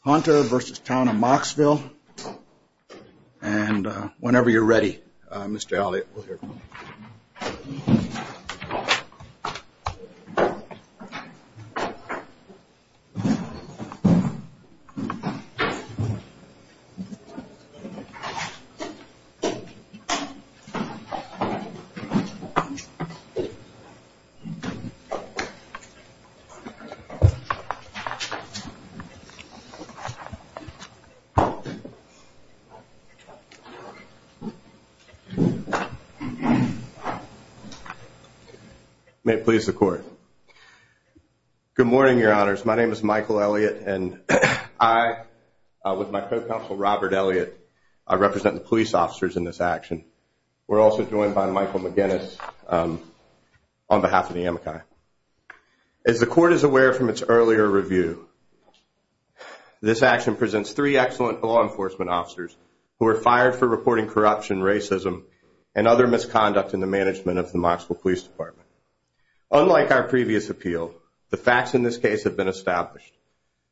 Hunter v. Town of Mocksville. And whenever you're ready, Mr. Elliott, we'll hear from you. May it please the court. Good morning, your honors. My name is Michael Elliott, and I, with my co-counsel Robert Elliott, represent the police officers in this action. We're also joined by Michael McGinnis on behalf of the Amici. As the court is aware from its earlier review, this action presents three excellent law enforcement officers who were fired for reporting corruption, racism, and other misconduct in the management of the Mocksville Police Department. Unlike our previous appeal, the facts in this case have been established.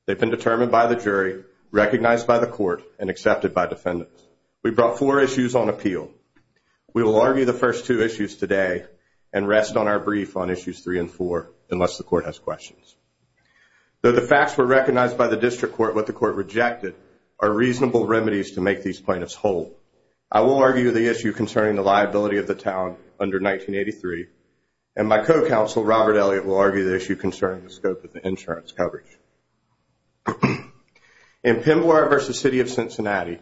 They've been determined by the jury, recognized by the court, and accepted by defendants. We brought four issues on appeal. We will argue the first two issues today and rest on our brief on issues three and four, unless the court has questions. Though the facts were recognized by the district court, what the court rejected are reasonable remedies to make these plaintiffs whole. I will argue the issue concerning the liability of the town under 1983, and my co-counsel Robert Elliott will argue the issue concerning the scope of the insurance coverage. In Pemboire v. City of Cincinnati,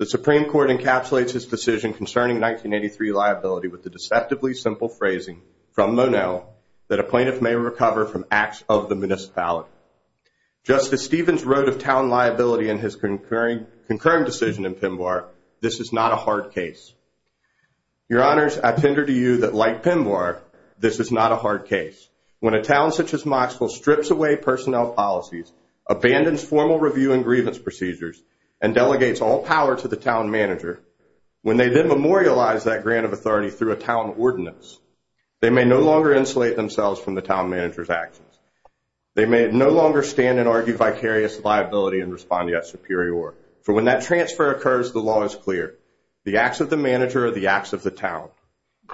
the Supreme Court encapsulates its decision concerning 1983 liability with the deceptively simple phrasing from Monel that a plaintiff may recover from acts of the municipality. Just as Stevens wrote of town liability in his concurring decision in Pemboire, this is not a hard case. Your Honors, I tender to you that like Pemboire, this is not a hard case. When a town such as Mocksville strips away personnel policies, abandons formal review and grievance procedures, and delegates all power to the town manager, when they then memorialize that grant of authority through a town ordinance, they may no longer insulate themselves from the town manager's actions. They may no longer stand and argue vicarious liability and respond to that superior order. For when that transfer occurs, the law is clear. The acts of the manager are the acts of the town.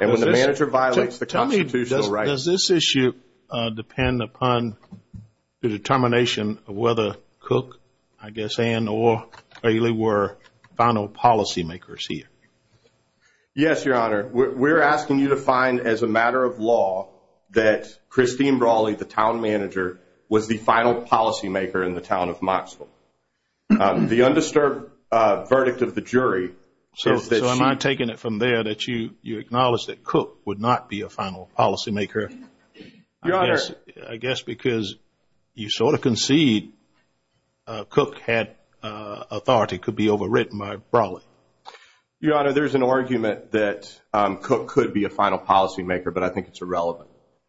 And when the manager violates the constitutional right... Tell me, does this issue depend upon the determination of whether Cook, I guess, and or Bailey were final policy makers here? Yes, Your Honor. We're asking you to find as a matter of law that Christine Brawley, the town manager, was the final policy maker in the town of Mocksville. The undisturbed verdict of the jury... So am I taking it from there that you acknowledge that Cook would not be a final policy maker? Your Honor... I guess because you sort of concede Cook had authority, could be overwritten by Brawley. Your Honor, there's an argument that Cook could be a final policy maker, but I think it's irrelevant.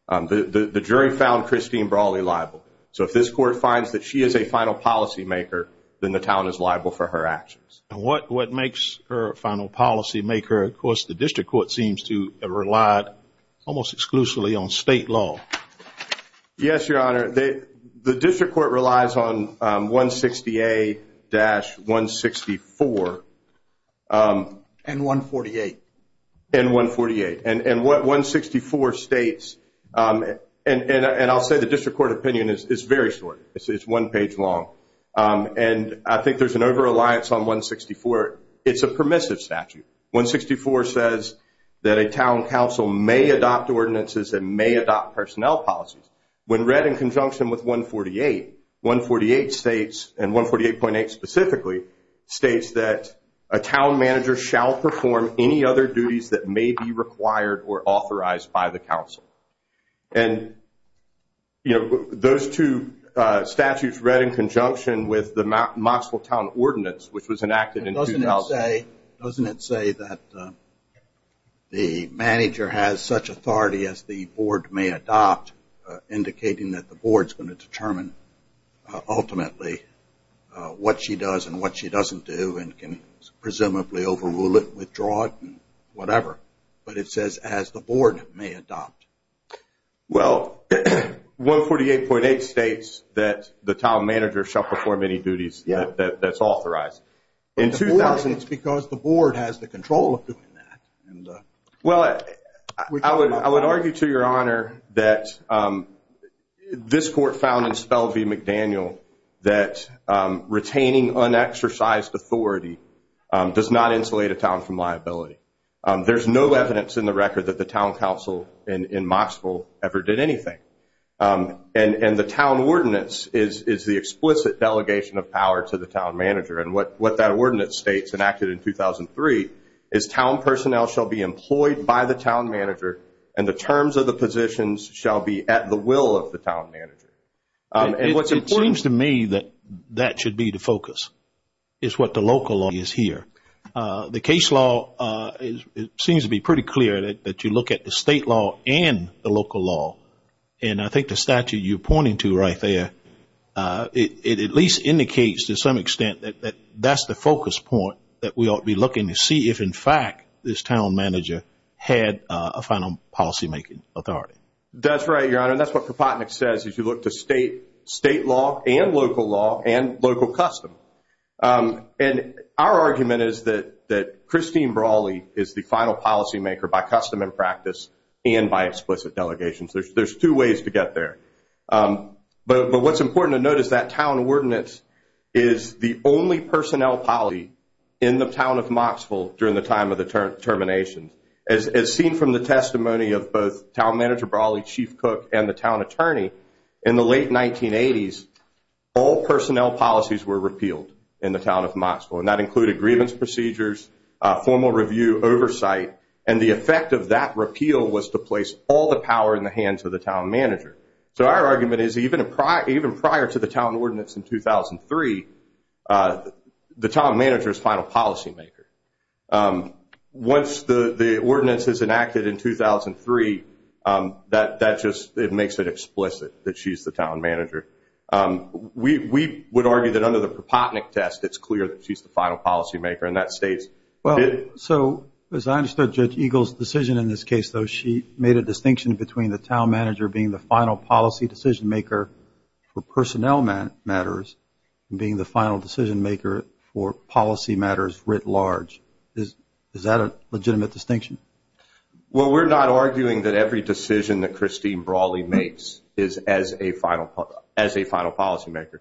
The jury found Christine Brawley liable. So if this court finds that she is a final policy maker, then the town is liable for her actions. What makes her a final policy maker? Of course, the district court seems to rely almost exclusively on state law. Yes, Your Honor. The district court relies on 168-164. And 148. And 148. And what 164 states... And I'll say the district court opinion is very short. It's one page long. And I think there's an over-reliance on 164. It's a permissive statute. 164 says that a town council may adopt ordinances and may adopt personnel policies. When read in conjunction with 148, 148 states, and 148.8 specifically, states that a town manager shall perform any other duties that may be required or authorized by the council. And, you know, those two statutes read in conjunction with the Knoxville Town Ordinance, which was enacted in 2000. Doesn't it say that the manager has such authority as the board may adopt, indicating that the board's going to determine ultimately what she does and what she doesn't do and can presumably overrule it, withdraw it, whatever? But it says, as the board may adopt. Well, 148.8 states that the town manager shall perform any duties that's authorized. In 2000. It's because the board has the control of doing that. Well, I would argue to your honor that this court found in Spell v. McDaniel that retaining unexercised authority does not insulate a town from liability. There's no evidence in the record that the town council in Knoxville ever did anything. And the town ordinance is the explicit delegation of power to the town manager. And what that ordinance states, enacted in 2003, is town personnel shall be employed by the town manager and the terms of the positions shall be at the will of the town manager. It seems to me that that should be the focus, is what the local law is here. The case law, it seems to be pretty clear that you look at the state law and the local law. And I think the statute you're pointing to right there, it at least indicates to some extent that that's the focus point that we ought to be looking to see if, in fact, this town manager had a final policymaking authority. That's right, your honor. That's what Kropotnick says if you look to state law and local law and local custom. And our argument is that Christine Brawley is the final policymaker by custom and practice and by explicit delegations. There's two ways to get there. But what's important to note is that town ordinance is the only personnel policy in the town of Knoxville during the time of the termination. As seen from the testimony of both town manager Brawley, Chief Cook, and the town attorney, in the late 1980s, all personnel policies were repealed in the town of Knoxville, and that included grievance procedures, formal review, oversight. And the effect of that repeal was to place all the power in the hands of the town manager. So our argument is even prior to the town ordinance in 2003, the town manager is final policymaker. Once the ordinance is enacted in 2003, that just makes it explicit that she's the town manager. We would argue that under the Kropotnick test, it's clear that she's the final policymaker, and that states it. So as I understood Judge Eagle's decision in this case, though, she made a distinction between the town manager being the final policy decision maker for personnel matters and being the final decision maker for policy matters writ large. Is that a legitimate distinction? Well, we're not arguing that every decision that Christine Brawley makes is as a final policymaker.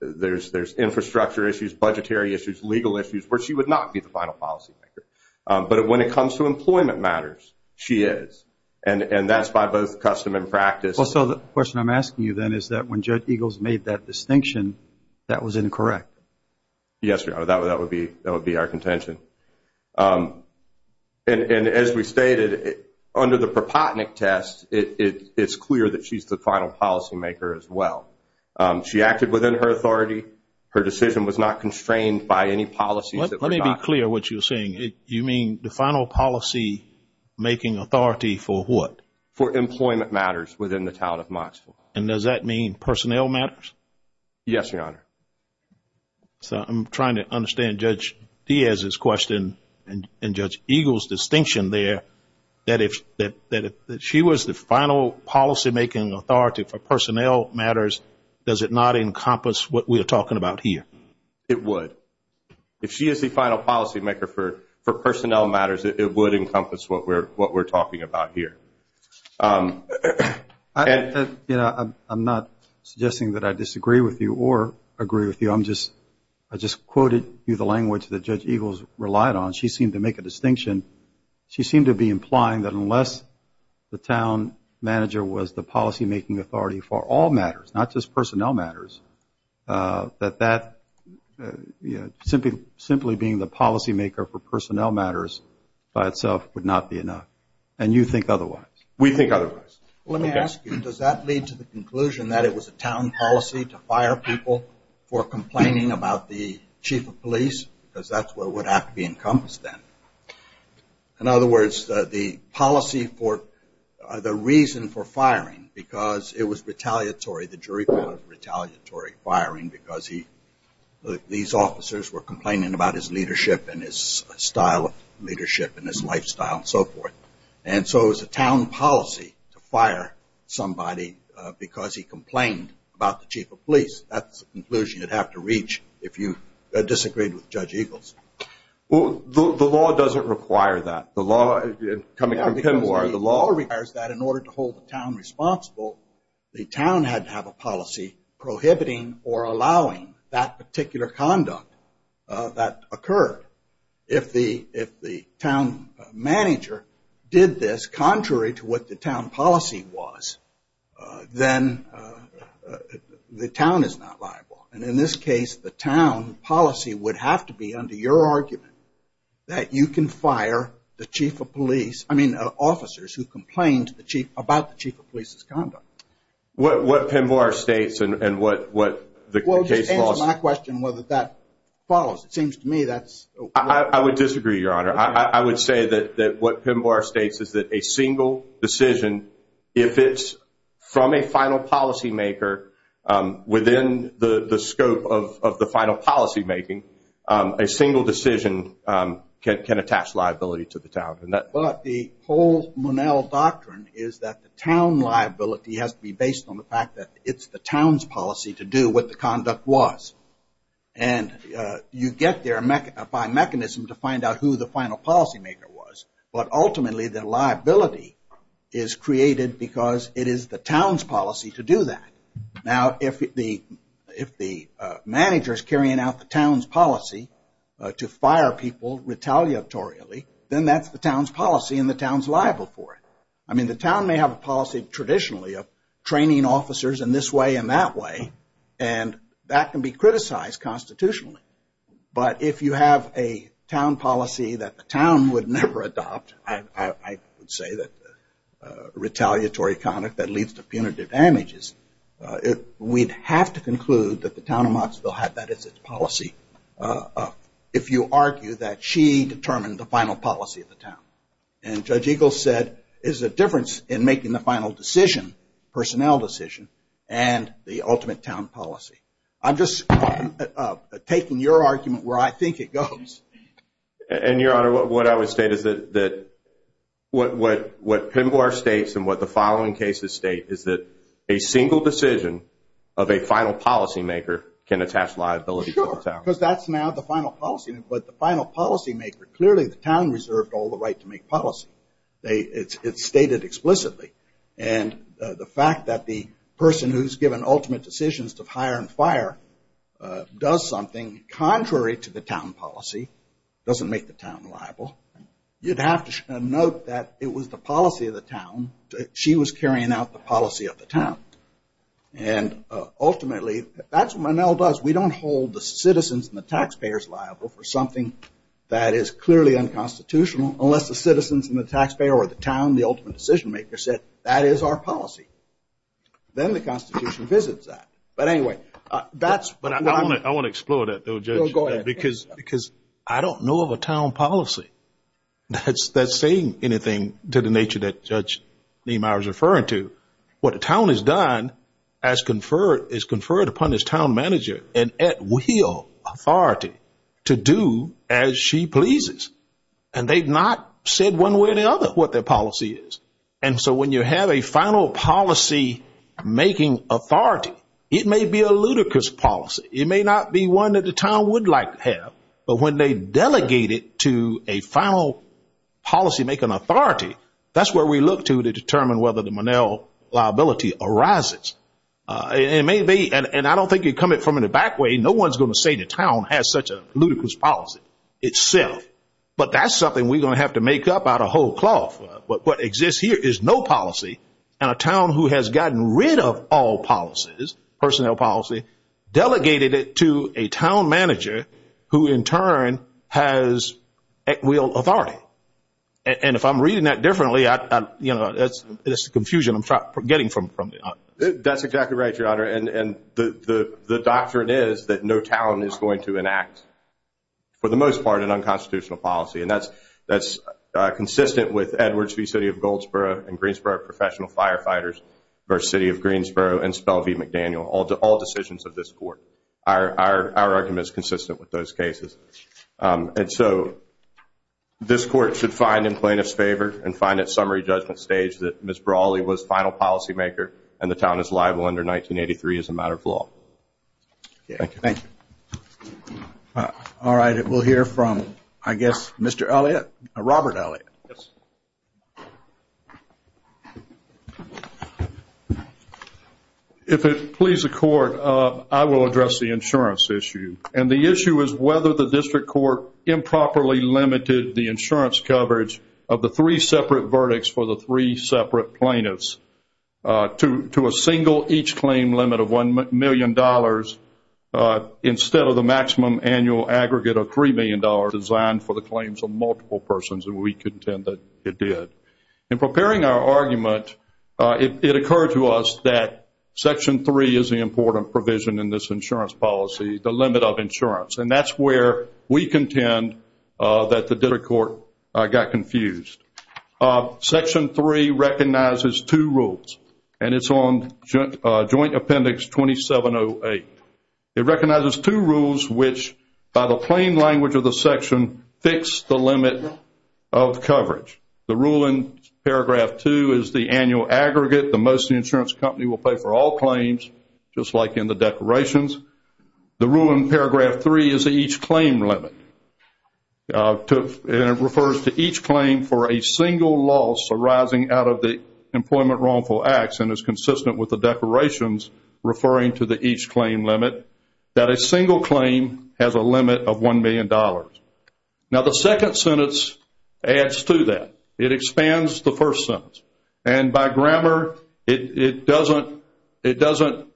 There's infrastructure issues, budgetary issues, legal issues where she would not be the final policymaker. But when it comes to employment matters, she is, and that's by both custom and practice. Well, so the question I'm asking you then is that when Judge Eagle's made that distinction, that was incorrect. Yes, Your Honor, that would be our contention. And as we stated, under the Kropotnick test, it's clear that she's the final policymaker as well. She acted within her authority. Her decision was not constrained by any policies that were not. Let me be clear what you're saying. You mean the final policymaking authority for what? For employment matters within the town of Mottsville. And does that mean personnel matters? Yes, Your Honor. So I'm trying to understand Judge Diaz's question and Judge Eagle's distinction there, that if she was the final policymaking authority for personnel matters, does it not encompass what we are talking about here? It would. If she is the final policymaker for personnel matters, it would encompass what we're talking about here. I'm not suggesting that I disagree with you or agree with you. I just quoted you the language that Judge Eagle's relied on. She seemed to make a distinction. She seemed to be implying that unless the town manager was the policymaking authority for all matters, not just personnel matters, that simply being the policymaker for personnel matters by itself would not be enough. And you think otherwise. We think otherwise. Let me ask you, does that lead to the conclusion that it was a town policy to fire people for complaining about the chief of police? Because that's what would have to be encompassed then. In other words, the policy for the reason for firing because it was retaliatory, the jury found it retaliatory firing because these officers were complaining about his leadership and his style of leadership and his lifestyle and so forth. And so it was a town policy to fire somebody because he complained about the chief of police. That's the conclusion you'd have to reach if you disagreed with Judge Eagle's. The law doesn't require that. The law requires that in order to hold the town responsible, the town had to have a policy prohibiting or allowing that particular conduct that occurred. If the town manager did this contrary to what the town policy was, then the town is not liable. And in this case, the town policy would have to be under your argument that you can fire the chief of police, I mean officers who complained about the chief of police's conduct. What Pinbar states and what the case laws. Well, just answer my question whether that follows. It seems to me that's. I would disagree, Your Honor. I would say that what Pinbar states is that a single decision, if it's from a final policymaker, within the scope of the final policymaking, a single decision can attach liability to the town. But the whole Monell doctrine is that the town liability has to be based on the fact that it's the town's policy to do what the conduct was. And you get there by mechanism to find out who the final policymaker was. But ultimately, the liability is created because it is the town's policy to do that. Now, if the manager is carrying out the town's policy to fire people retaliatorily, then that's the town's policy and the town's liable for it. I mean, the town may have a policy traditionally of training officers in this way and that way, and that can be criticized constitutionally. But if you have a town policy that the town would never adopt, I would say that retaliatory conduct that leads to punitive damages, we'd have to conclude that the town of Knoxville had that as its policy, if you argue that she determined the final policy of the town. And Judge Eagles said there's a difference in making the final decision, personnel decision, and the ultimate town policy. I'm just taking your argument where I think it goes. And, Your Honor, what I would state is that what Pinbar states and what the following cases state is that a single decision of a final policymaker can attach liability to the town. Sure, because that's now the final policy. But the final policymaker, clearly the town reserved all the right to make policy. It's stated explicitly. And the fact that the person who's given ultimate decisions to fire and fire does something contrary to the town policy doesn't make the town liable. You'd have to note that it was the policy of the town. She was carrying out the policy of the town. And, ultimately, that's what Monell does. We don't hold the citizens and the taxpayers liable for something that is clearly unconstitutional unless the citizens and the taxpayer or the town, the ultimate decisionmaker, said that is our policy. Then the Constitution visits that. But, anyway, that's what I'm going to do. I want to explore that, though, Judge. Go ahead. Because I don't know of a town policy that's saying anything to the nature that Judge Niemeyer is referring to. What a town has done is conferred upon its town manager an at-will authority to do as she pleases. And they've not said one way or the other what their policy is. And so when you have a final policy-making authority, it may be a ludicrous policy. It may not be one that the town would like to have. But when they delegate it to a final policy-making authority, that's where we look to to determine whether the Monell liability arises. It may be, and I don't think you come at it from the back way, no one's going to say the town has such a ludicrous policy itself. But that's something we're going to have to make up out of whole cloth. What exists here is no policy. And a town who has gotten rid of all policies, personnel policy, delegated it to a town manager who, in turn, has at-will authority. And if I'm reading that differently, that's the confusion I'm getting from the audience. That's exactly right, Your Honor. And the doctrine is that no town is going to enact, for the most part, an unconstitutional policy. And that's consistent with Edwards v. City of Goldsboro and Greensboro Professional Firefighters v. City of Greensboro and Spell v. McDaniel, all decisions of this court. Our argument is consistent with those cases. And so this court should find in plaintiff's favor and find at summary judgment stage that Ms. Brawley was final policy-maker and the town is liable under 1983 as a matter of law. Thank you. All right. We'll hear from, I guess, Mr. Elliott, Robert Elliott. If it pleases the Court, I will address the insurance issue. And the issue is whether the district court improperly limited the insurance coverage of the three separate verdicts for the three separate plaintiffs to a single each claim limit of $1 million instead of the maximum annual aggregate of $3 million designed for the claims of multiple persons. And we contend that it did. In preparing our argument, it occurred to us that Section 3 is the important provision in this insurance policy, the limit of insurance. And that's where we contend that the district court got confused. Section 3 recognizes two rules. And it's on Joint Appendix 2708. It recognizes two rules which, by the plain language of the section, fix the limit of coverage. The rule in Paragraph 2 is the annual aggregate, the most the insurance company will pay for all claims, just like in the declarations. The rule in Paragraph 3 is the each claim limit. It refers to each claim for a single loss arising out of the employment wrongful acts and is consistent with the declarations referring to the each claim limit that a single claim has a limit of $1 million. Now, the second sentence adds to that. It expands the first sentence. And by grammar, it doesn't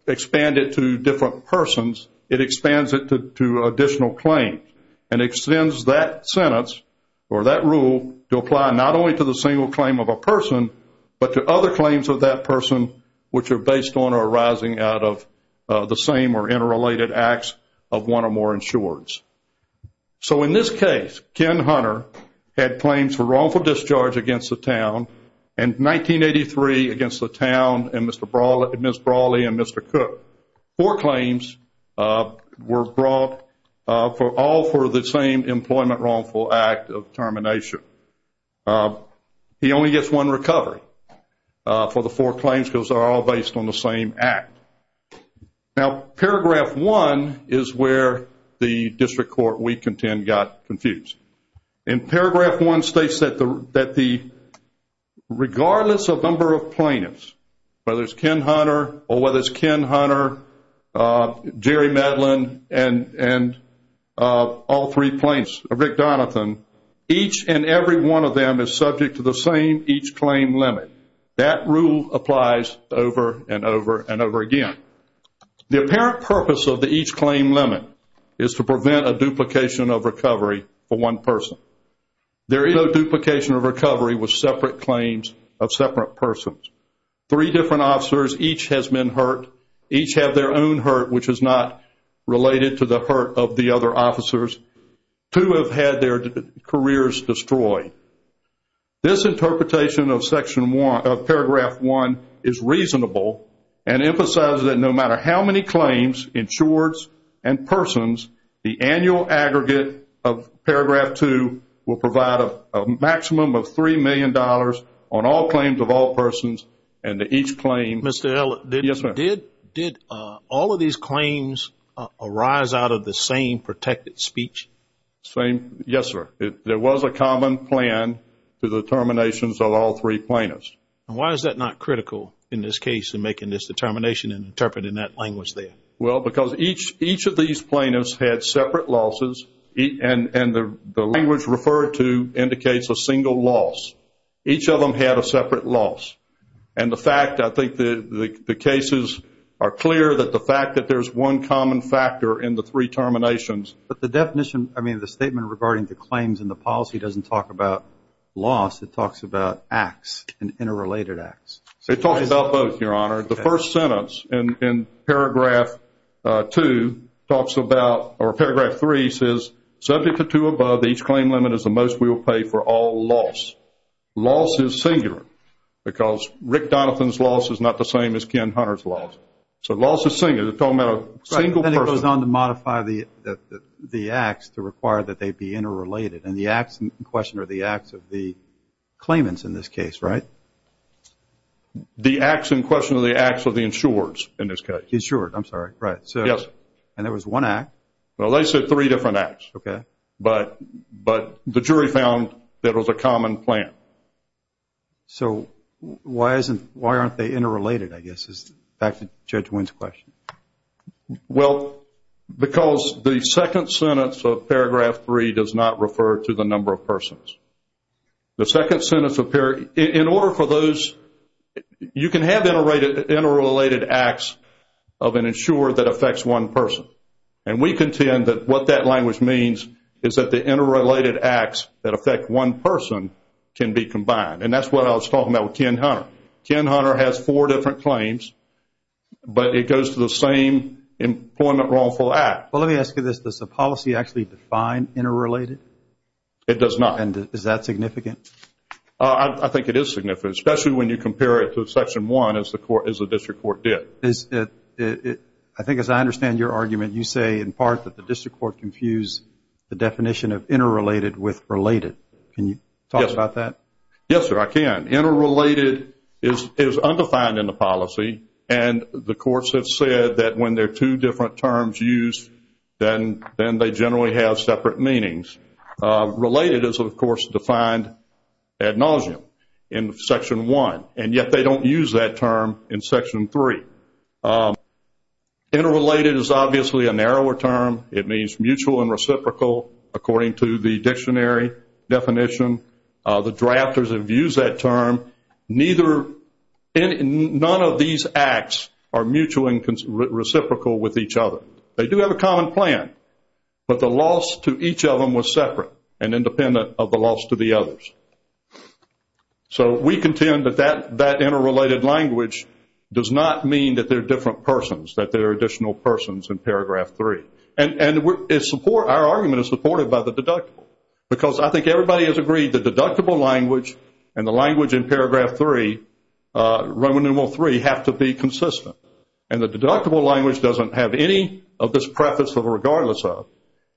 expand it to different persons. It expands it to additional claims. And it extends that sentence or that rule to apply not only to the single claim of a person but to other claims of that person which are based on or arising out of the same or interrelated acts of one or more insureds. So in this case, Ken Hunter had claims for wrongful discharge against the town and 1983 against the town and Ms. Brawley and Mr. Cook. Four claims were brought all for the same employment wrongful act of termination. He only gets one recovery for the four claims because they're all based on the same act. Now, Paragraph 1 is where the district court we contend got confused. In Paragraph 1 states that regardless of number of plaintiffs, whether it's Ken Hunter or whether it's Ken Hunter, Jerry Medlin, and all three plaintiffs, Rick Donathan, each and every one of them is subject to the same each claim limit. That rule applies over and over and over again. The apparent purpose of the each claim limit is to prevent a duplication of recovery for one person. There is no duplication of recovery with separate claims of separate persons. Three different officers, each has been hurt, each have their own hurt, which is not related to the hurt of the other officers. Two have had their careers destroyed. This interpretation of Paragraph 1 is reasonable and emphasizes that no matter how many claims, insureds, and persons, the annual aggregate of Paragraph 2 will provide a maximum of $3 million on all claims of all persons and to each claim. Mr. Elliott, did all of these claims arise out of the same protected speech? Yes, sir. There was a common plan to the terminations of all three plaintiffs. Why is that not critical in this case in making this determination and interpreting that language there? Well, because each of these plaintiffs had separate losses, and the language referred to indicates a single loss. Each of them had a separate loss. And the fact, I think the cases are clear that the fact that there's one common factor in the three terminations. But the definition, I mean, the statement regarding the claims and the policy doesn't talk about loss. It talks about acts and interrelated acts. It talks about both, Your Honor. The first sentence in Paragraph 2 talks about, or Paragraph 3 says, subject to two above, each claim limit is the most we will pay for all loss. Loss is singular because Rick Donovan's loss is not the same as Ken Hunter's loss. So loss is singular. It's talking about a single person. Then it goes on to modify the acts to require that they be interrelated. And the acts in question are the acts of the claimants in this case, right? The acts in question are the acts of the insurers in this case. Insurers, I'm sorry. Right. Yes. And there was one act. Well, they said three different acts. Okay. But the jury found that it was a common plan. So why aren't they interrelated, I guess, is back to Judge Wynn's question. Well, because the second sentence of Paragraph 3 does not refer to the number of persons. The second sentence of Paragraph 3, in order for those, you can have interrelated acts of an insurer that affects one person. And we contend that what that language means is that the interrelated acts that affect one person can be combined. And that's what I was talking about with Ken Hunter. Ken Hunter has four different claims, but it goes to the same employment wrongful act. Well, let me ask you this. Does the policy actually define interrelated? It does not. And is that significant? I think it is significant, especially when you compare it to Section 1 as the district court did. I think as I understand your argument, you say in part that the district court confused the definition of interrelated with related. Can you talk about that? Yes, sir, I can. Interrelated is undefined in the policy, and the courts have said that when there are two different terms used, then they generally have separate meanings. Related is, of course, defined ad nauseum in Section 1, and yet they don't use that term in Section 3. Interrelated is obviously a narrower term. It means mutual and reciprocal according to the dictionary definition. The drafters have used that term. None of these acts are mutual and reciprocal with each other. They do have a common plan, but the loss to each of them was separate and independent of the loss to the others. So we contend that that interrelated language does not mean that they're different persons, that they're additional persons in Paragraph 3. And our argument is supported by the deductible, because I think everybody has agreed the deductible language and the language in Paragraph 3, Roman numeral 3, have to be consistent. And the deductible language doesn't have any of this preface of regardless of,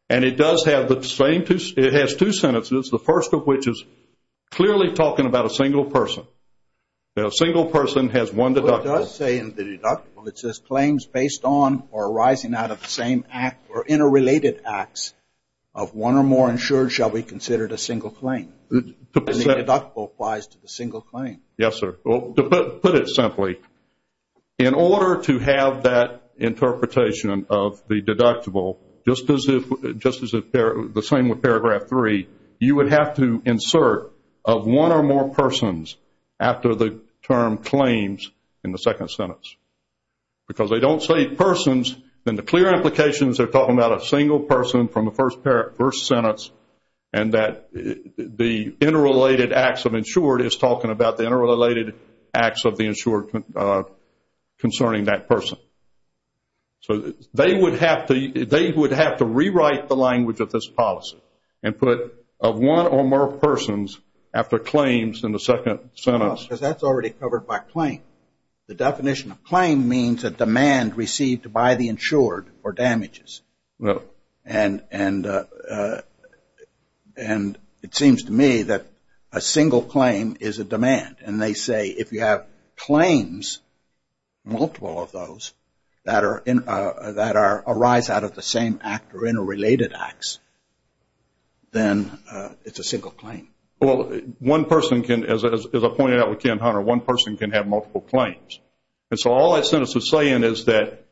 and it does have the same two sentences, the first of which is clearly talking about a single person. A single person has one deductible. It does say in the deductible, it says claims based on or arising out of the same act or interrelated acts of one or more insured shall be considered a single claim. The deductible applies to the single claim. Yes, sir. Well, to put it simply, in order to have that interpretation of the deductible, just as the same with Paragraph 3, you would have to insert of one or more persons after the term claims in the second sentence. Because they don't say persons, then the clear implications are talking about a single person from the first sentence and that the interrelated acts of insured is talking about the interrelated acts of the insured concerning that person. So they would have to rewrite the language of this policy and put of one or more persons after claims in the second sentence. Because that's already covered by claim. The definition of claim means a demand received by the insured for damages. And it seems to me that a single claim is a demand. And they say if you have claims, multiple of those, that arise out of the same act or interrelated acts, then it's a single claim. Well, one person can, as I pointed out with Ken Hunter, one person can have multiple claims. And so all that sentence is saying is that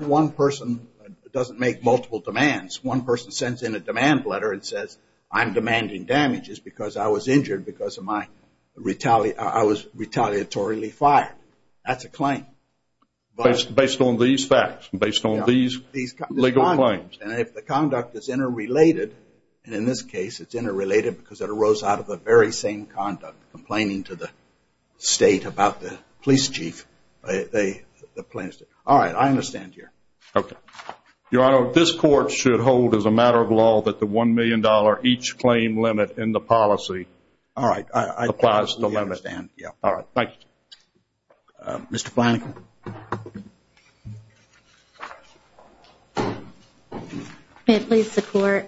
one person doesn't make multiple demands. One person sends in a demand letter and says, I'm demanding damages because I was injured because I was retaliatory fired. That's a claim. Based on these facts, based on these legal claims. And if the conduct is interrelated, and in this case it's interrelated because it arose out of the very same conduct, I'm not complaining to the state about the police chief. All right. I understand here. Okay. Your Honor, this court should hold as a matter of law that the $1 million each claim limit in the policy applies to limits. All right. Thank you. Mr. Flanagan. May it please the Court.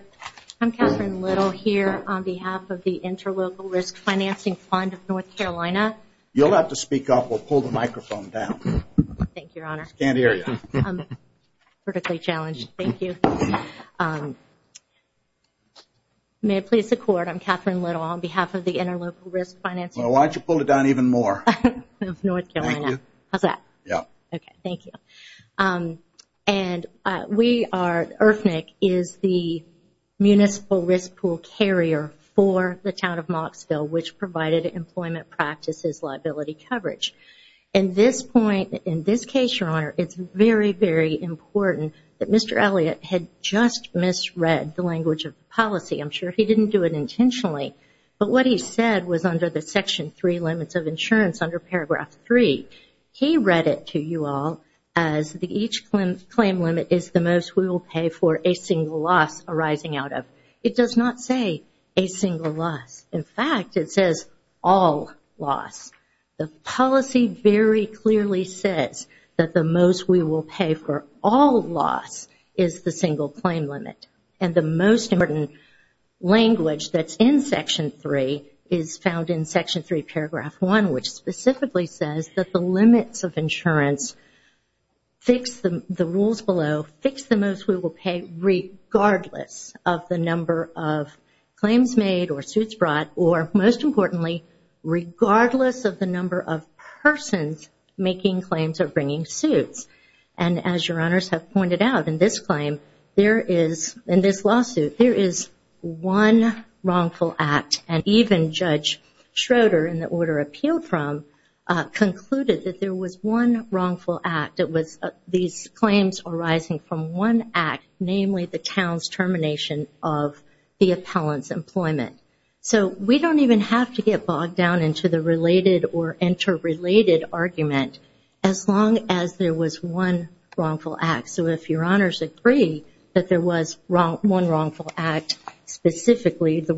I'm Catherine Little here on behalf of the Interlocal Risk Financing Fund of North Carolina. You'll have to speak up or pull the microphone down. Thank you, Your Honor. She can't hear you. I'm particularly challenged. Thank you. May it please the Court. I'm Catherine Little on behalf of the Interlocal Risk Financing Fund. Well, why don't you pull it down even more? Of North Carolina. How's that? Yeah. Okay. Thank you. And we are, IRFNIC is the municipal risk pool carrier for the town of Moxville, which provided employment practices liability coverage. At this point, in this case, Your Honor, it's very, very important that Mr. Elliott had just misread the language of the policy. I'm sure he didn't do it intentionally. But what he said was under the Section 3 limits of insurance under Paragraph 3. He read it to you all as each claim limit is the most we will pay for a single loss arising out of. It does not say a single loss. In fact, it says all loss. The policy very clearly says that the most we will pay for all loss is the single claim limit. And the most important language that's in Section 3 is found in Section 3 Paragraph 1, which specifically says that the limits of insurance fix the rules below, fix the most we will pay regardless of the number of claims made or suits brought, or most importantly, regardless of the number of persons making claims or bringing suits. And as Your Honors have pointed out, in this claim, there is, in this lawsuit, there is one wrongful act. And even Judge Schroeder, in the order appealed from, concluded that there was one wrongful act. It was these claims arising from one act, namely the town's termination of the appellant's employment. So we don't even have to get bogged down into the related or interrelated argument as long as there was one wrongful act. So if Your Honors agree that there was one wrongful act, specifically the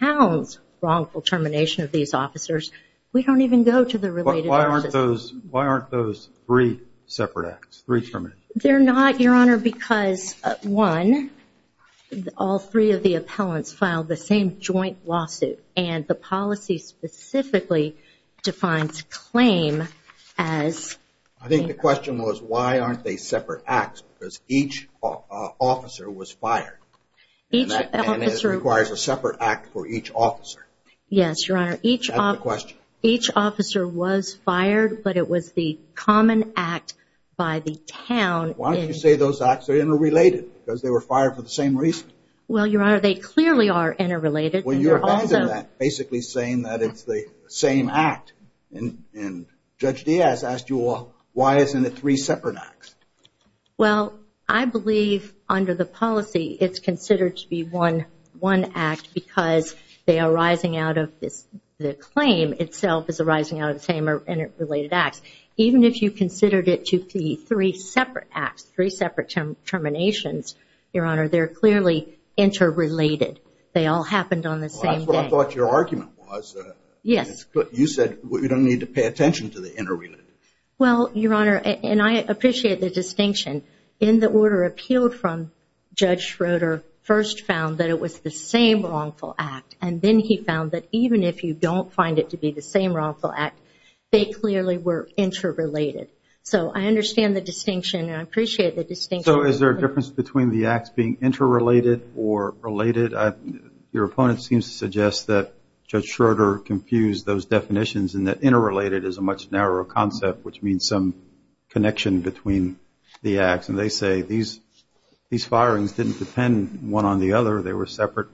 town's wrongful termination of these officers, we don't even go to the related process. Why aren't those three separate acts, three terminations? They're not, Your Honor, because, one, all three of the appellants filed the same joint lawsuit, and the policy specifically defines claim as... I think the question was why aren't they separate acts, because each officer was fired. And that requires a separate act for each officer. Yes, Your Honor. That's the question. Each officer was fired, but it was the common act by the town. Why don't you say those acts are interrelated, because they were fired for the same reason? Well, Your Honor, they clearly are interrelated. Well, you're basically saying that it's the same act. And Judge Diaz asked you, well, why isn't it three separate acts? Well, I believe under the policy it's considered to be one act because they are arising out of this, the claim itself is arising out of the same interrelated acts. Even if you considered it to be three separate acts, three separate terminations, Your Honor, they're clearly interrelated. They all happened on the same day. Well, that's what I thought your argument was. Yes. You said we don't need to pay attention to the interrelated. Well, Your Honor, and I appreciate the distinction. In the order appealed from, Judge Schroeder first found that it was the same wrongful act, and then he found that even if you don't find it to be the same wrongful act, they clearly were interrelated. So I understand the distinction, and I appreciate the distinction. So is there a difference between the acts being interrelated or related? Your opponent seems to suggest that Judge Schroeder confused those definitions and that interrelated is a much narrower concept, which means some connection between the acts. And they say these firings didn't depend one on the other. They were separate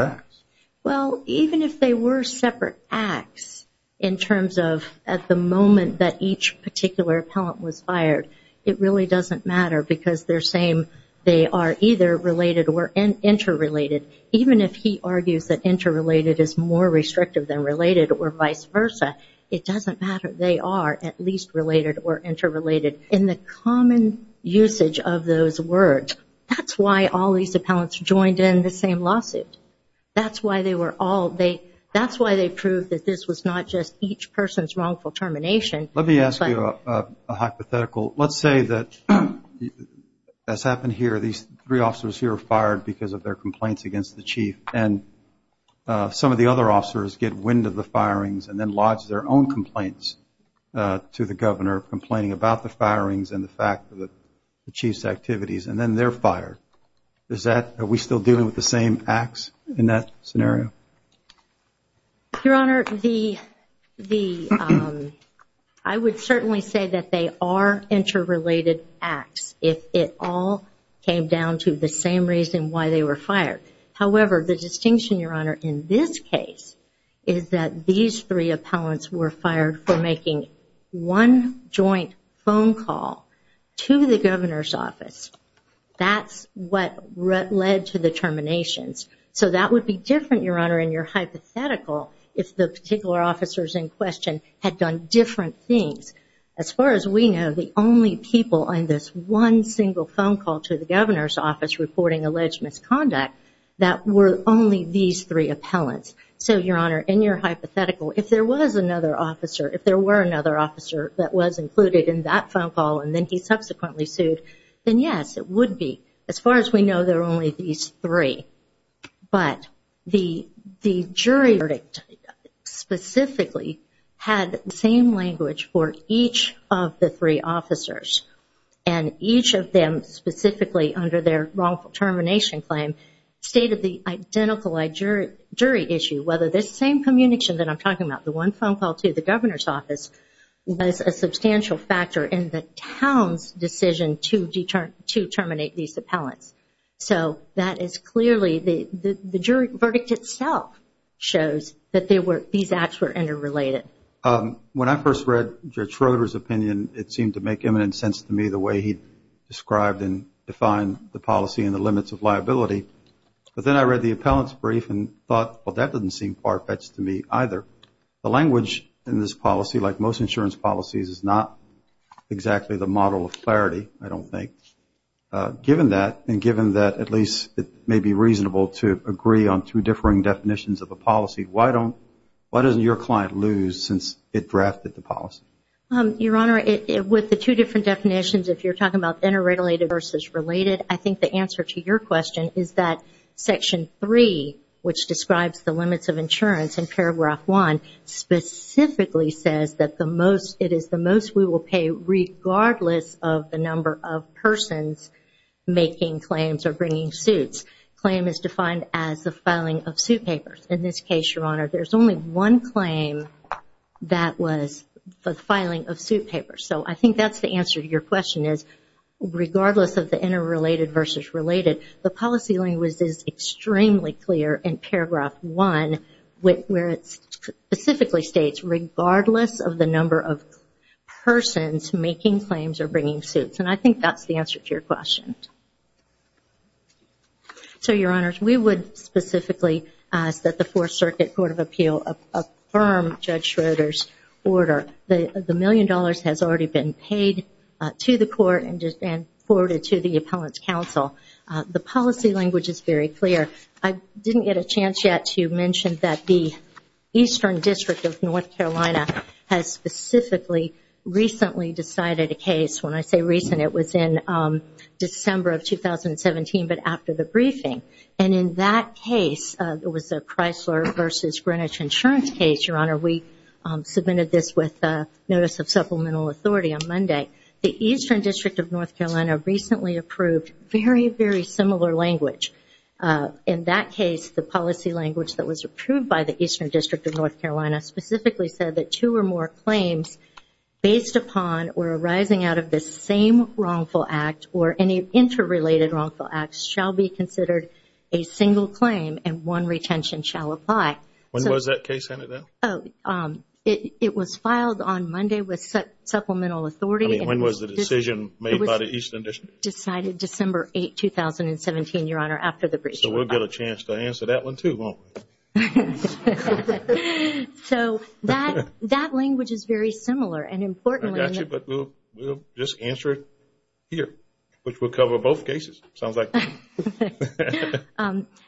acts. Well, even if they were separate acts in terms of at the moment that each particular appellant was fired, it really doesn't matter because they're saying they are either related or interrelated. Even if he argues that interrelated is more restrictive than related or vice versa, it doesn't matter. They are at least related or interrelated. In the common usage of those words, that's why all these appellants joined in the same lawsuit. That's why they proved that this was not just each person's wrongful termination. Let me ask you a hypothetical. Let's say that this happened here. These three officers here were fired because of their complaints against the chief, and some of the other officers get wind of the firings and then lodge their own complaints to the governor, complaining about the firings and the fact that the chief's activities, and then they're fired. Your Honor, I would certainly say that they are interrelated acts if it all came down to the same reason why they were fired. However, the distinction, Your Honor, in this case is that these three appellants were fired for making one joint phone call to the governor's office. That's what led to the terminations. So that would be different, Your Honor, in your hypothetical, if the particular officers in question had done different things. As far as we know, the only people on this one single phone call to the governor's office reporting alleged misconduct, that were only these three appellants. So, Your Honor, in your hypothetical, if there was another officer, if there were another officer that was included in that phone call and then he subsequently sued, then yes, it would be. As far as we know, there are only these three. But the jury verdict specifically had the same language for each of the three officers. And each of them specifically, under their wrongful termination claim, stated the identical jury issue, whether the same communication that I'm talking about, the one phone call to the governor's office, was a substantial factor in the town's decision to terminate these appellants. So that is clearly the jury verdict itself shows that these acts were interrelated. When I first read Judge Schroeder's opinion, it seemed to make imminent sense to me the way he described and defined the policy and the limits of liability. But then I read the appellant's brief and thought, well, that doesn't seem far-fetched to me either. The language in this policy, like most insurance policies, is not exactly the model of clarity, I don't think. Given that, and given that at least it may be reasonable to agree on two differing definitions of a policy, why doesn't your client lose since it drafted the policy? Your Honor, with the two different definitions, if you're talking about interrelated versus related, I think the answer to your question is that Section 3, which describes the limits of insurance in Paragraph 1, specifically says that it is the most we will pay regardless of the number of persons making claims or bringing suits. Claim is defined as the filing of suit papers. In this case, Your Honor, there's only one claim that was the filing of suit papers. So I think that's the answer to your question, is regardless of the interrelated versus related, the policy language is extremely clear in Paragraph 1, where it specifically states regardless of the number of persons making claims or bringing suits. And I think that's the answer to your question. So, Your Honors, we would specifically ask that the Fourth Circuit Court of Appeal affirm Judge Schroeder's order. The million dollars has already been paid to the court and forwarded to the Appellant's counsel. The policy language is very clear. I didn't get a chance yet to mention that the Eastern District of North Carolina has specifically recently decided a case. When I say recent, it was in December of 2017, but after the briefing. And in that case, it was a Chrysler versus Greenwich insurance case, Your Honor. We submitted this with notice of supplemental authority on Monday. The Eastern District of North Carolina recently approved very, very similar language. In that case, the policy language that was approved by the Eastern District of North Carolina specifically said that two or more claims based upon or arising out of the same wrongful act or any interrelated wrongful acts shall be considered a single claim and one retention shall apply. When was that case handed down? It was filed on Monday with supplemental authority. I mean, when was the decision made by the Eastern District? It was decided December 8, 2017, Your Honor, after the briefing. So, we'll get a chance to answer that one too, won't we? So, that language is very similar and important. I got you, but we'll just answer it here, which will cover both cases.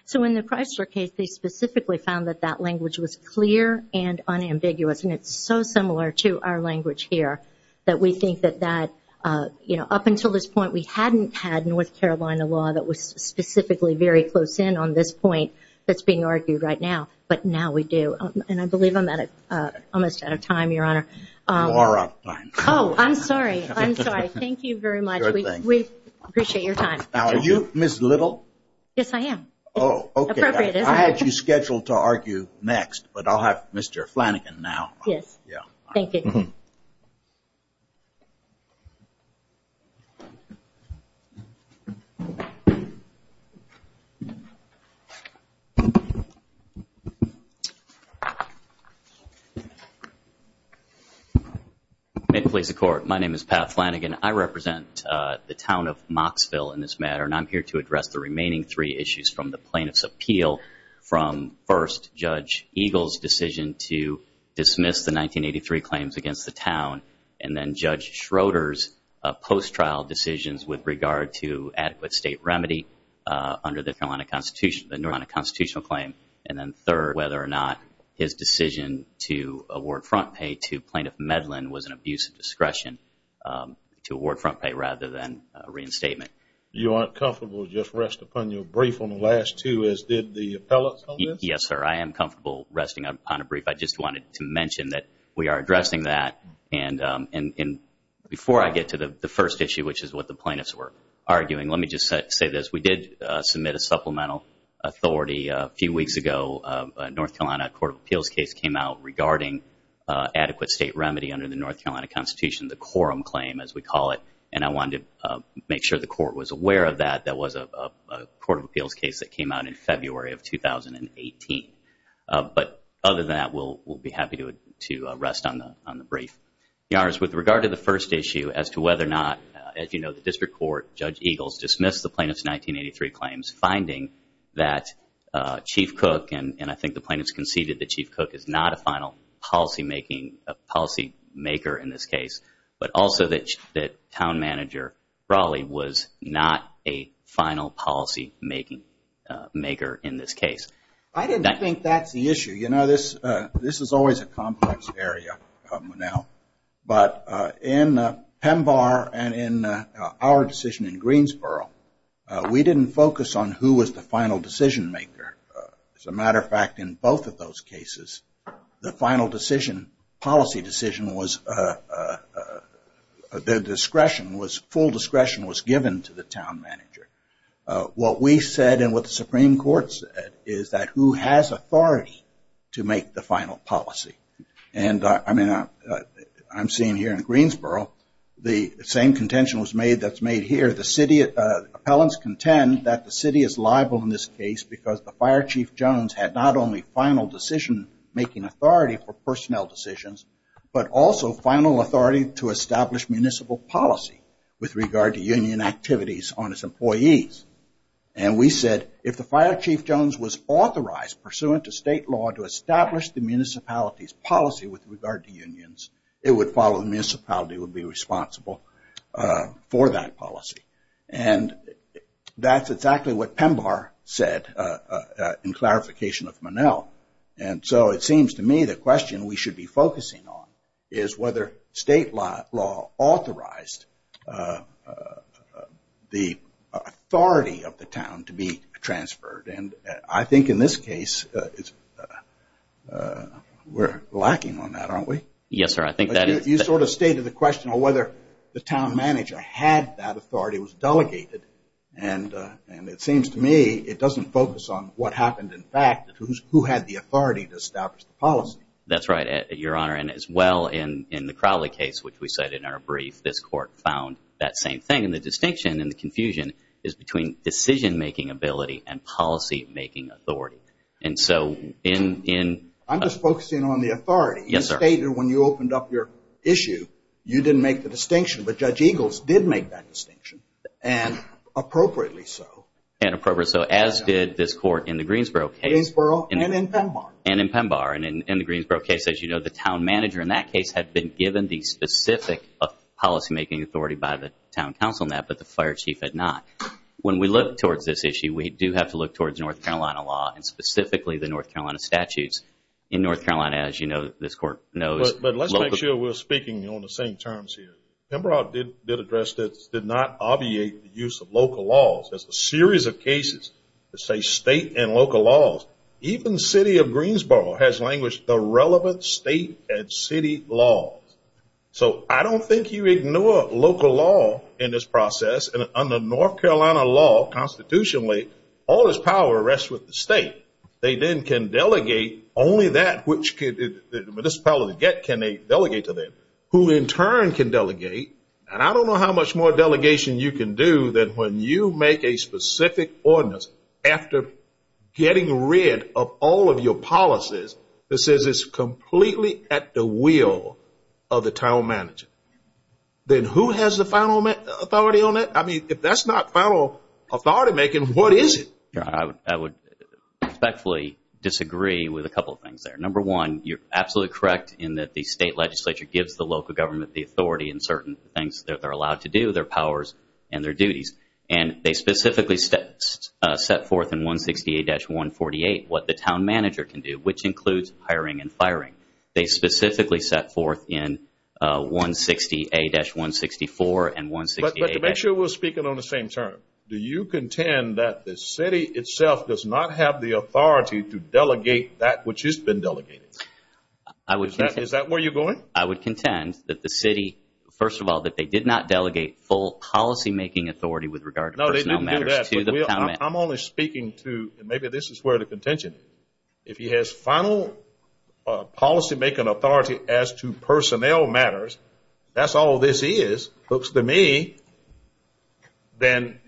So, in the Chrysler case, they specifically found that that language was clear and unambiguous, and it's so similar to our language here that we think that that, you know, up until this point we hadn't had North Carolina law that was specifically very close in on this point that's being argued right now, but now we do. And I believe I'm almost out of time, Your Honor. You are out of time. Oh, I'm sorry. I'm sorry. Thank you very much. We appreciate your time. Now, are you Ms. Little? Yes, I am. Oh, okay. Appropriate, isn't it? I had you scheduled to argue next, but I'll have Mr. Flanagan now. Yes. Yeah. Thank you. May it please the Court, my name is Pat Flanagan. I represent the town of Mocksville in this matter, and I'm here to address the remaining three issues from the plaintiff's appeal, from first, Judge Eagle's decision to dismiss the 1983 claims against the town, and then Judge Schroeder's post-trial decisions with regard to adequate state remedy under the North Carolina constitutional claim, and then third, whether or not his decision to award front pay to plaintiff Medlin was an abuse of discretion. To award front pay rather than reinstatement. You aren't comfortable to just rest upon your brief on the last two, as did the appellate on this? Yes, sir. I am comfortable resting upon a brief. I just wanted to mention that we are addressing that, and before I get to the first issue, which is what the plaintiffs were arguing, let me just say this. We did submit a supplemental authority a few weeks ago. A North Carolina court of appeals case came out regarding adequate state remedy under the North Carolina constitution. The quorum claim, as we call it, and I wanted to make sure the court was aware of that. That was a court of appeals case that came out in February of 2018. But other than that, we'll be happy to rest on the brief. With regard to the first issue as to whether or not, as you know, the district court, Judge Eagle's, dismissed the plaintiff's 1983 claims, finding that Chief Cook, and I think the plaintiff's conceded that Chief Cook is not a final policymaker in this case, but also that Town Manager Brawley was not a final policymaker in this case. I didn't think that's the issue. You know, this is always a complex area, Monell. But in PEMBAR and in our decision in Greensboro, we didn't focus on who was the final decision maker. As a matter of fact, in both of those cases, the final decision, policy decision was, the discretion was, full discretion was given to the town manager. What we said and what the Supreme Court said is that who has authority to make the final policy. And I mean, I'm seeing here in Greensboro, the same contention was made that's made here. Appellants contend that the city is liable in this case because the Fire Chief Jones had not only final decision making authority for personnel decisions, but also final authority to establish municipal policy with regard to union activities on its employees. And we said if the Fire Chief Jones was authorized pursuant to state law to establish the municipality's policy with regard to unions, it would follow the municipality would be responsible for that policy. And that's exactly what PEMBAR said in clarification of Monell. And so it seems to me the question we should be focusing on is whether state law authorized the authority of the town to be transferred. And I think in this case, we're lacking on that, aren't we? Yes, sir. I think that is... But you sort of stated the question on whether the town manager had that authority, was delegated. And it seems to me it doesn't focus on what happened in fact, who had the authority to establish the policy. That's right, Your Honor. And as well in the Crowley case, which we cited in our brief, this court found that same thing. And the distinction and the confusion is between decision making ability and policy making authority. And so in... I'm just focusing on the authority. Yes, sir. You stated when you opened up your issue, you didn't make the distinction. But Judge Eagles did make that distinction, and appropriately so. And appropriately so, as did this court in the Greensboro case. Greensboro and in PEMBAR. And in PEMBAR. And in the Greensboro case, as you know, the town manager in that case had been given the specific policy making authority by the town council on that, but the fire chief had not. When we look towards this issue, we do have to look towards North Carolina law, and specifically the North Carolina statutes. In North Carolina, as you know, this court knows... But let's make sure we're speaking on the same terms here. PEMBAR did address this, did not obviate the use of local laws. There's a series of cases that say state and local laws. Even the city of Greensboro has languished the relevant state and city laws. So I don't think you ignore local law in this process. And under North Carolina law, constitutionally, all this power rests with the state. They then can delegate only that which the municipality can delegate to them, who in turn can delegate. And I don't know how much more delegation you can do than when you make a specific ordinance after getting rid of all of your policies that says it's completely at the will of the town manager. Then who has the final authority on that? I mean, if that's not final authority making, what is it? I would respectfully disagree with a couple of things there. Number one, you're absolutely correct in that the state legislature gives the local government the authority in certain things that they're allowed to do, their powers and their duties. And they specifically set forth in 168-148 what the town manager can do, which includes hiring and firing. They specifically set forth in 168-164 and 168-... But to make sure we're speaking on the same terms, do you contend that the city itself does not have the authority to delegate that which has been delegated? Is that where you're going? I would contend that the city, first of all, that they did not delegate full policymaking authority with regard to personnel matters to the town manager. I'm only speaking to, and maybe this is where the contention is, if he has final policymaking authority as to personnel matters, that's all this is, looks to me, then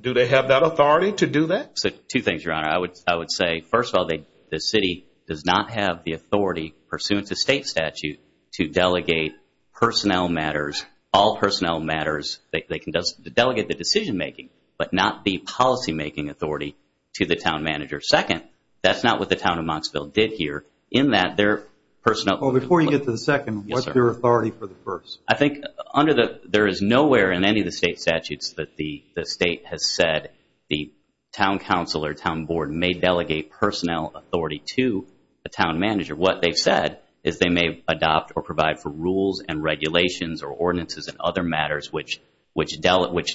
do they have that authority to do that? Two things, Your Honor. I would say, first of all, the city does not have the authority, pursuant to state statute, to delegate personnel matters, all personnel matters. They can delegate the decision making, but not the policymaking authority to the town manager. Second, that's not what the town of Montsville did here in that their personnel... Well, before you get to the second, what's their authority for the first? I think there is nowhere in any of the state statutes that the state has said the town council or town board may delegate personnel authority to a town manager. What they've said is they may adopt or provide for rules and regulations or ordinances and other matters which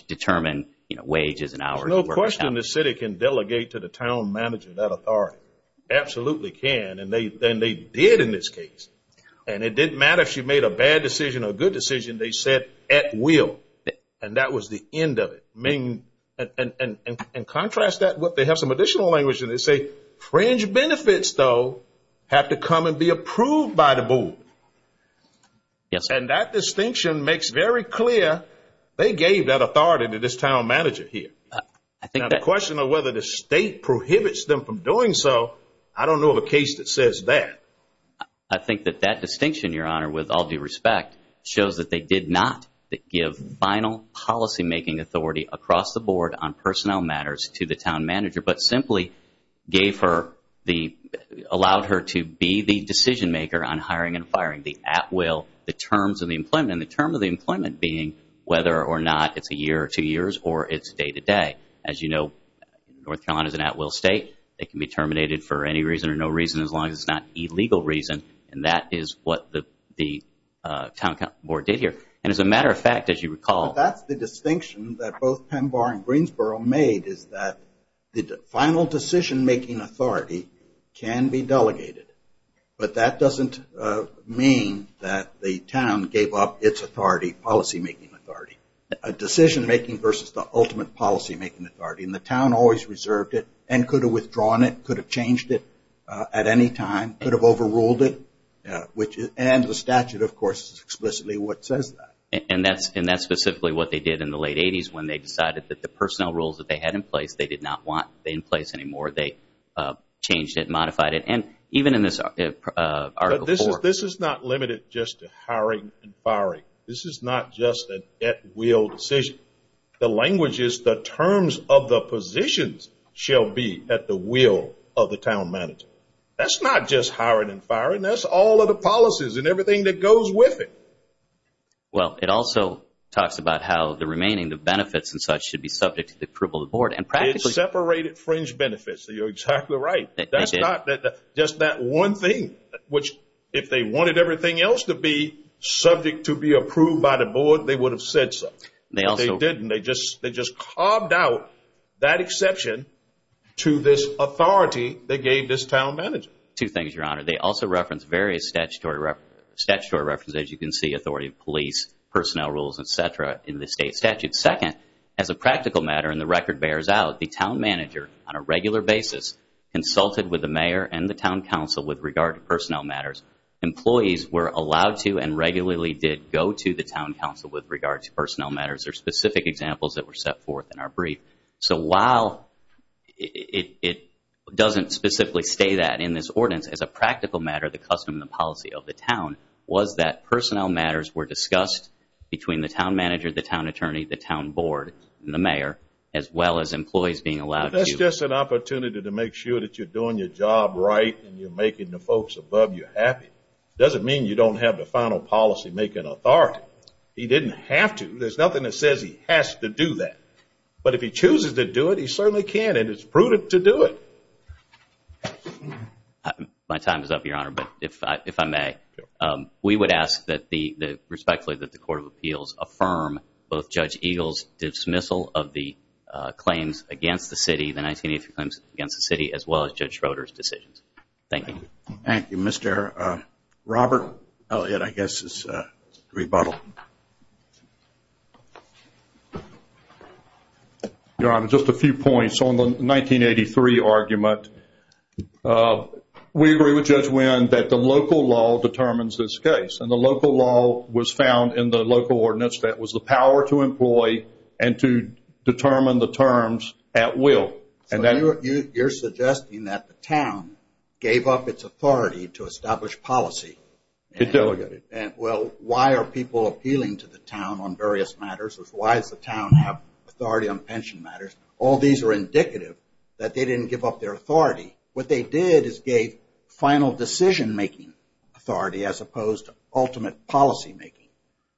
determine wages and hours of work. There's no question the city can delegate to the town manager that authority, absolutely can, and they did in this case. And it didn't matter if she made a bad decision or a good decision. They said at will, and that was the end of it. And contrast that with they have some additional language, and they say fringe benefits, though, have to come and be approved by the board. And that distinction makes very clear they gave that authority to this town manager here. Now the question of whether the state prohibits them from doing so, I don't know of a case that says that. But I think that that distinction, Your Honor, with all due respect, shows that they did not give final policymaking authority across the board on personnel matters to the town manager, but simply allowed her to be the decision maker on hiring and firing, the at will, the terms of the employment, and the term of the employment being whether or not it's a year or two years or it's day to day. As you know, North Carolina is an at will state. It can be terminated for any reason or no reason as long as it's not illegal reason, and that is what the town board did here. And as a matter of fact, as you recall. That's the distinction that both PEMBAR and Greensboro made is that the final decisionmaking authority can be delegated, but that doesn't mean that the town gave up its authority, policymaking authority, decisionmaking versus the ultimate policymaking authority. And the town always reserved it and could have withdrawn it, could have changed it at any time, could have overruled it, and the statute, of course, is explicitly what says that. And that's specifically what they did in the late 80s when they decided that the personnel rules that they had in place they did not want in place anymore. They changed it, modified it, and even in this article. This is not limited just to hiring and firing. This is not just an at will decision. The language is the terms of the positions shall be at the will of the town manager. That's not just hiring and firing. That's all of the policies and everything that goes with it. Well, it also talks about how the remaining, the benefits and such, should be subject to the approval of the board. It separated fringe benefits, so you're exactly right. That's not just that one thing, which if they wanted everything else to be subject to be approved by the board, they would have said so. They also didn't. They just carved out that exception to this authority they gave this town manager. Two things, Your Honor. They also referenced various statutory references, as you can see, authority of police, personnel rules, et cetera, in the state statute. Second, as a practical matter, and the record bears out, the town manager on a regular basis consulted with the mayor and the town council with regard to personnel matters. Employees were allowed to and regularly did go to the town council with regard to personnel matters. There are specific examples that were set forth in our brief. So while it doesn't specifically say that in this ordinance, as a practical matter, the custom and the policy of the town was that personnel matters were discussed between the town manager, the town attorney, the town board, and the mayor, as well as employees being allowed to. That's just an opportunity to make sure that you're doing your job right and you're making the folks above you happy. It doesn't mean you don't have the final policy-making authority. He didn't have to. There's nothing that says he has to do that. But if he chooses to do it, he certainly can, and it's prudent to do it. My time is up, Your Honor, but if I may, we would ask that the court of appeals affirm both Judge Eagle's dismissal of the claims against the city, the 1983 claims against the city, as well as Judge Schroeder's decisions. Thank you. Thank you. Mr. Robert Elliott, I guess, is to rebuttal. Your Honor, just a few points. On the 1983 argument, we agree with Judge Wynn that the local law determines this case, and the local law was found in the local ordinance that was the power to employ and to determine the terms at will. So you're suggesting that the town gave up its authority to establish policy? It delegated. Well, why are people appealing to the town on various matters? Why does the town have authority on pension matters? All these are indicative that they didn't give up their authority. What they did is gave final decision-making authority as opposed to ultimate policymaking.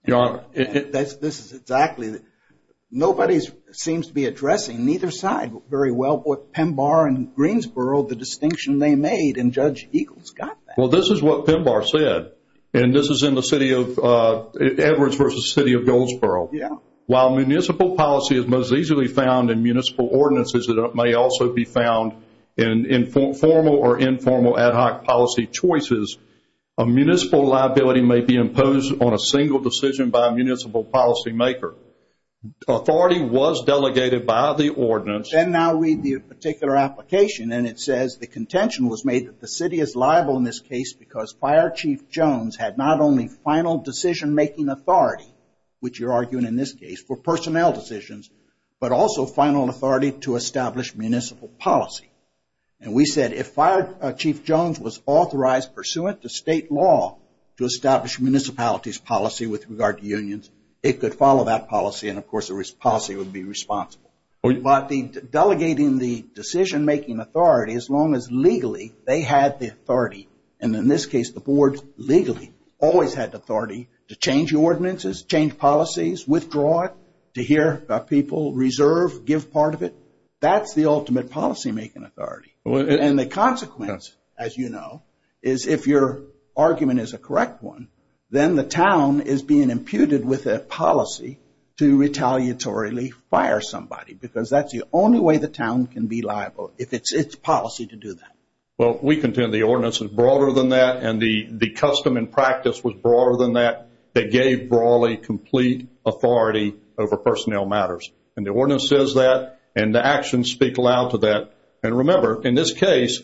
Your Honor. This is exactly that. Nobody seems to be addressing, neither side, very well, with Pembar and Greensboro, the distinction they made, and Judge Eagle's got that. Well, this is what Pembar said, and this is in the city of Edwards versus the city of Goldsboro. Yeah. While municipal policy is most easily found in municipal ordinances, it may also be found in formal or informal ad hoc policy choices, a municipal liability may be imposed on a single decision by a municipal policymaker. Authority was delegated by the ordinance. Then now read the particular application, and it says the contention was made that the city is liable in this case because Fire Chief Jones had not only final decision-making authority, which you're arguing in this case, for personnel decisions, but also final authority to establish municipal policy. And we said if Fire Chief Jones was authorized pursuant to state law to establish municipalities policy with regard to unions, it could follow that policy, and, of course, the policy would be responsible. By delegating the decision-making authority, as long as legally they had the authority, and in this case the board legally always had authority to change ordinances, change policies, withdraw it, to hear people reserve, give part of it, that's the ultimate policymaking authority. And the consequence, as you know, is if your argument is a correct one, then the town is being imputed with a policy to retaliatorily fire somebody because that's the only way the town can be liable, if it's its policy to do that. Well, we contend the ordinance is broader than that, and the custom and practice was broader than that that gave Brawley complete authority over personnel matters. And the ordinance says that, and the actions speak loud to that. And remember, in this case,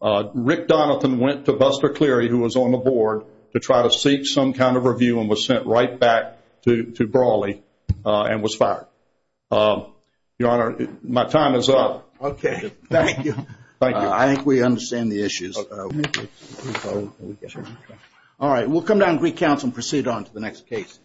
Rick Donathan went to Buster Cleary, who was on the board, to try to seek some kind of review and was sent right back to Brawley and was fired. Your Honor, my time is up. Okay, thank you. Thank you. I think we understand the issues. All right, we'll come down to Greek Council and proceed on to the next case.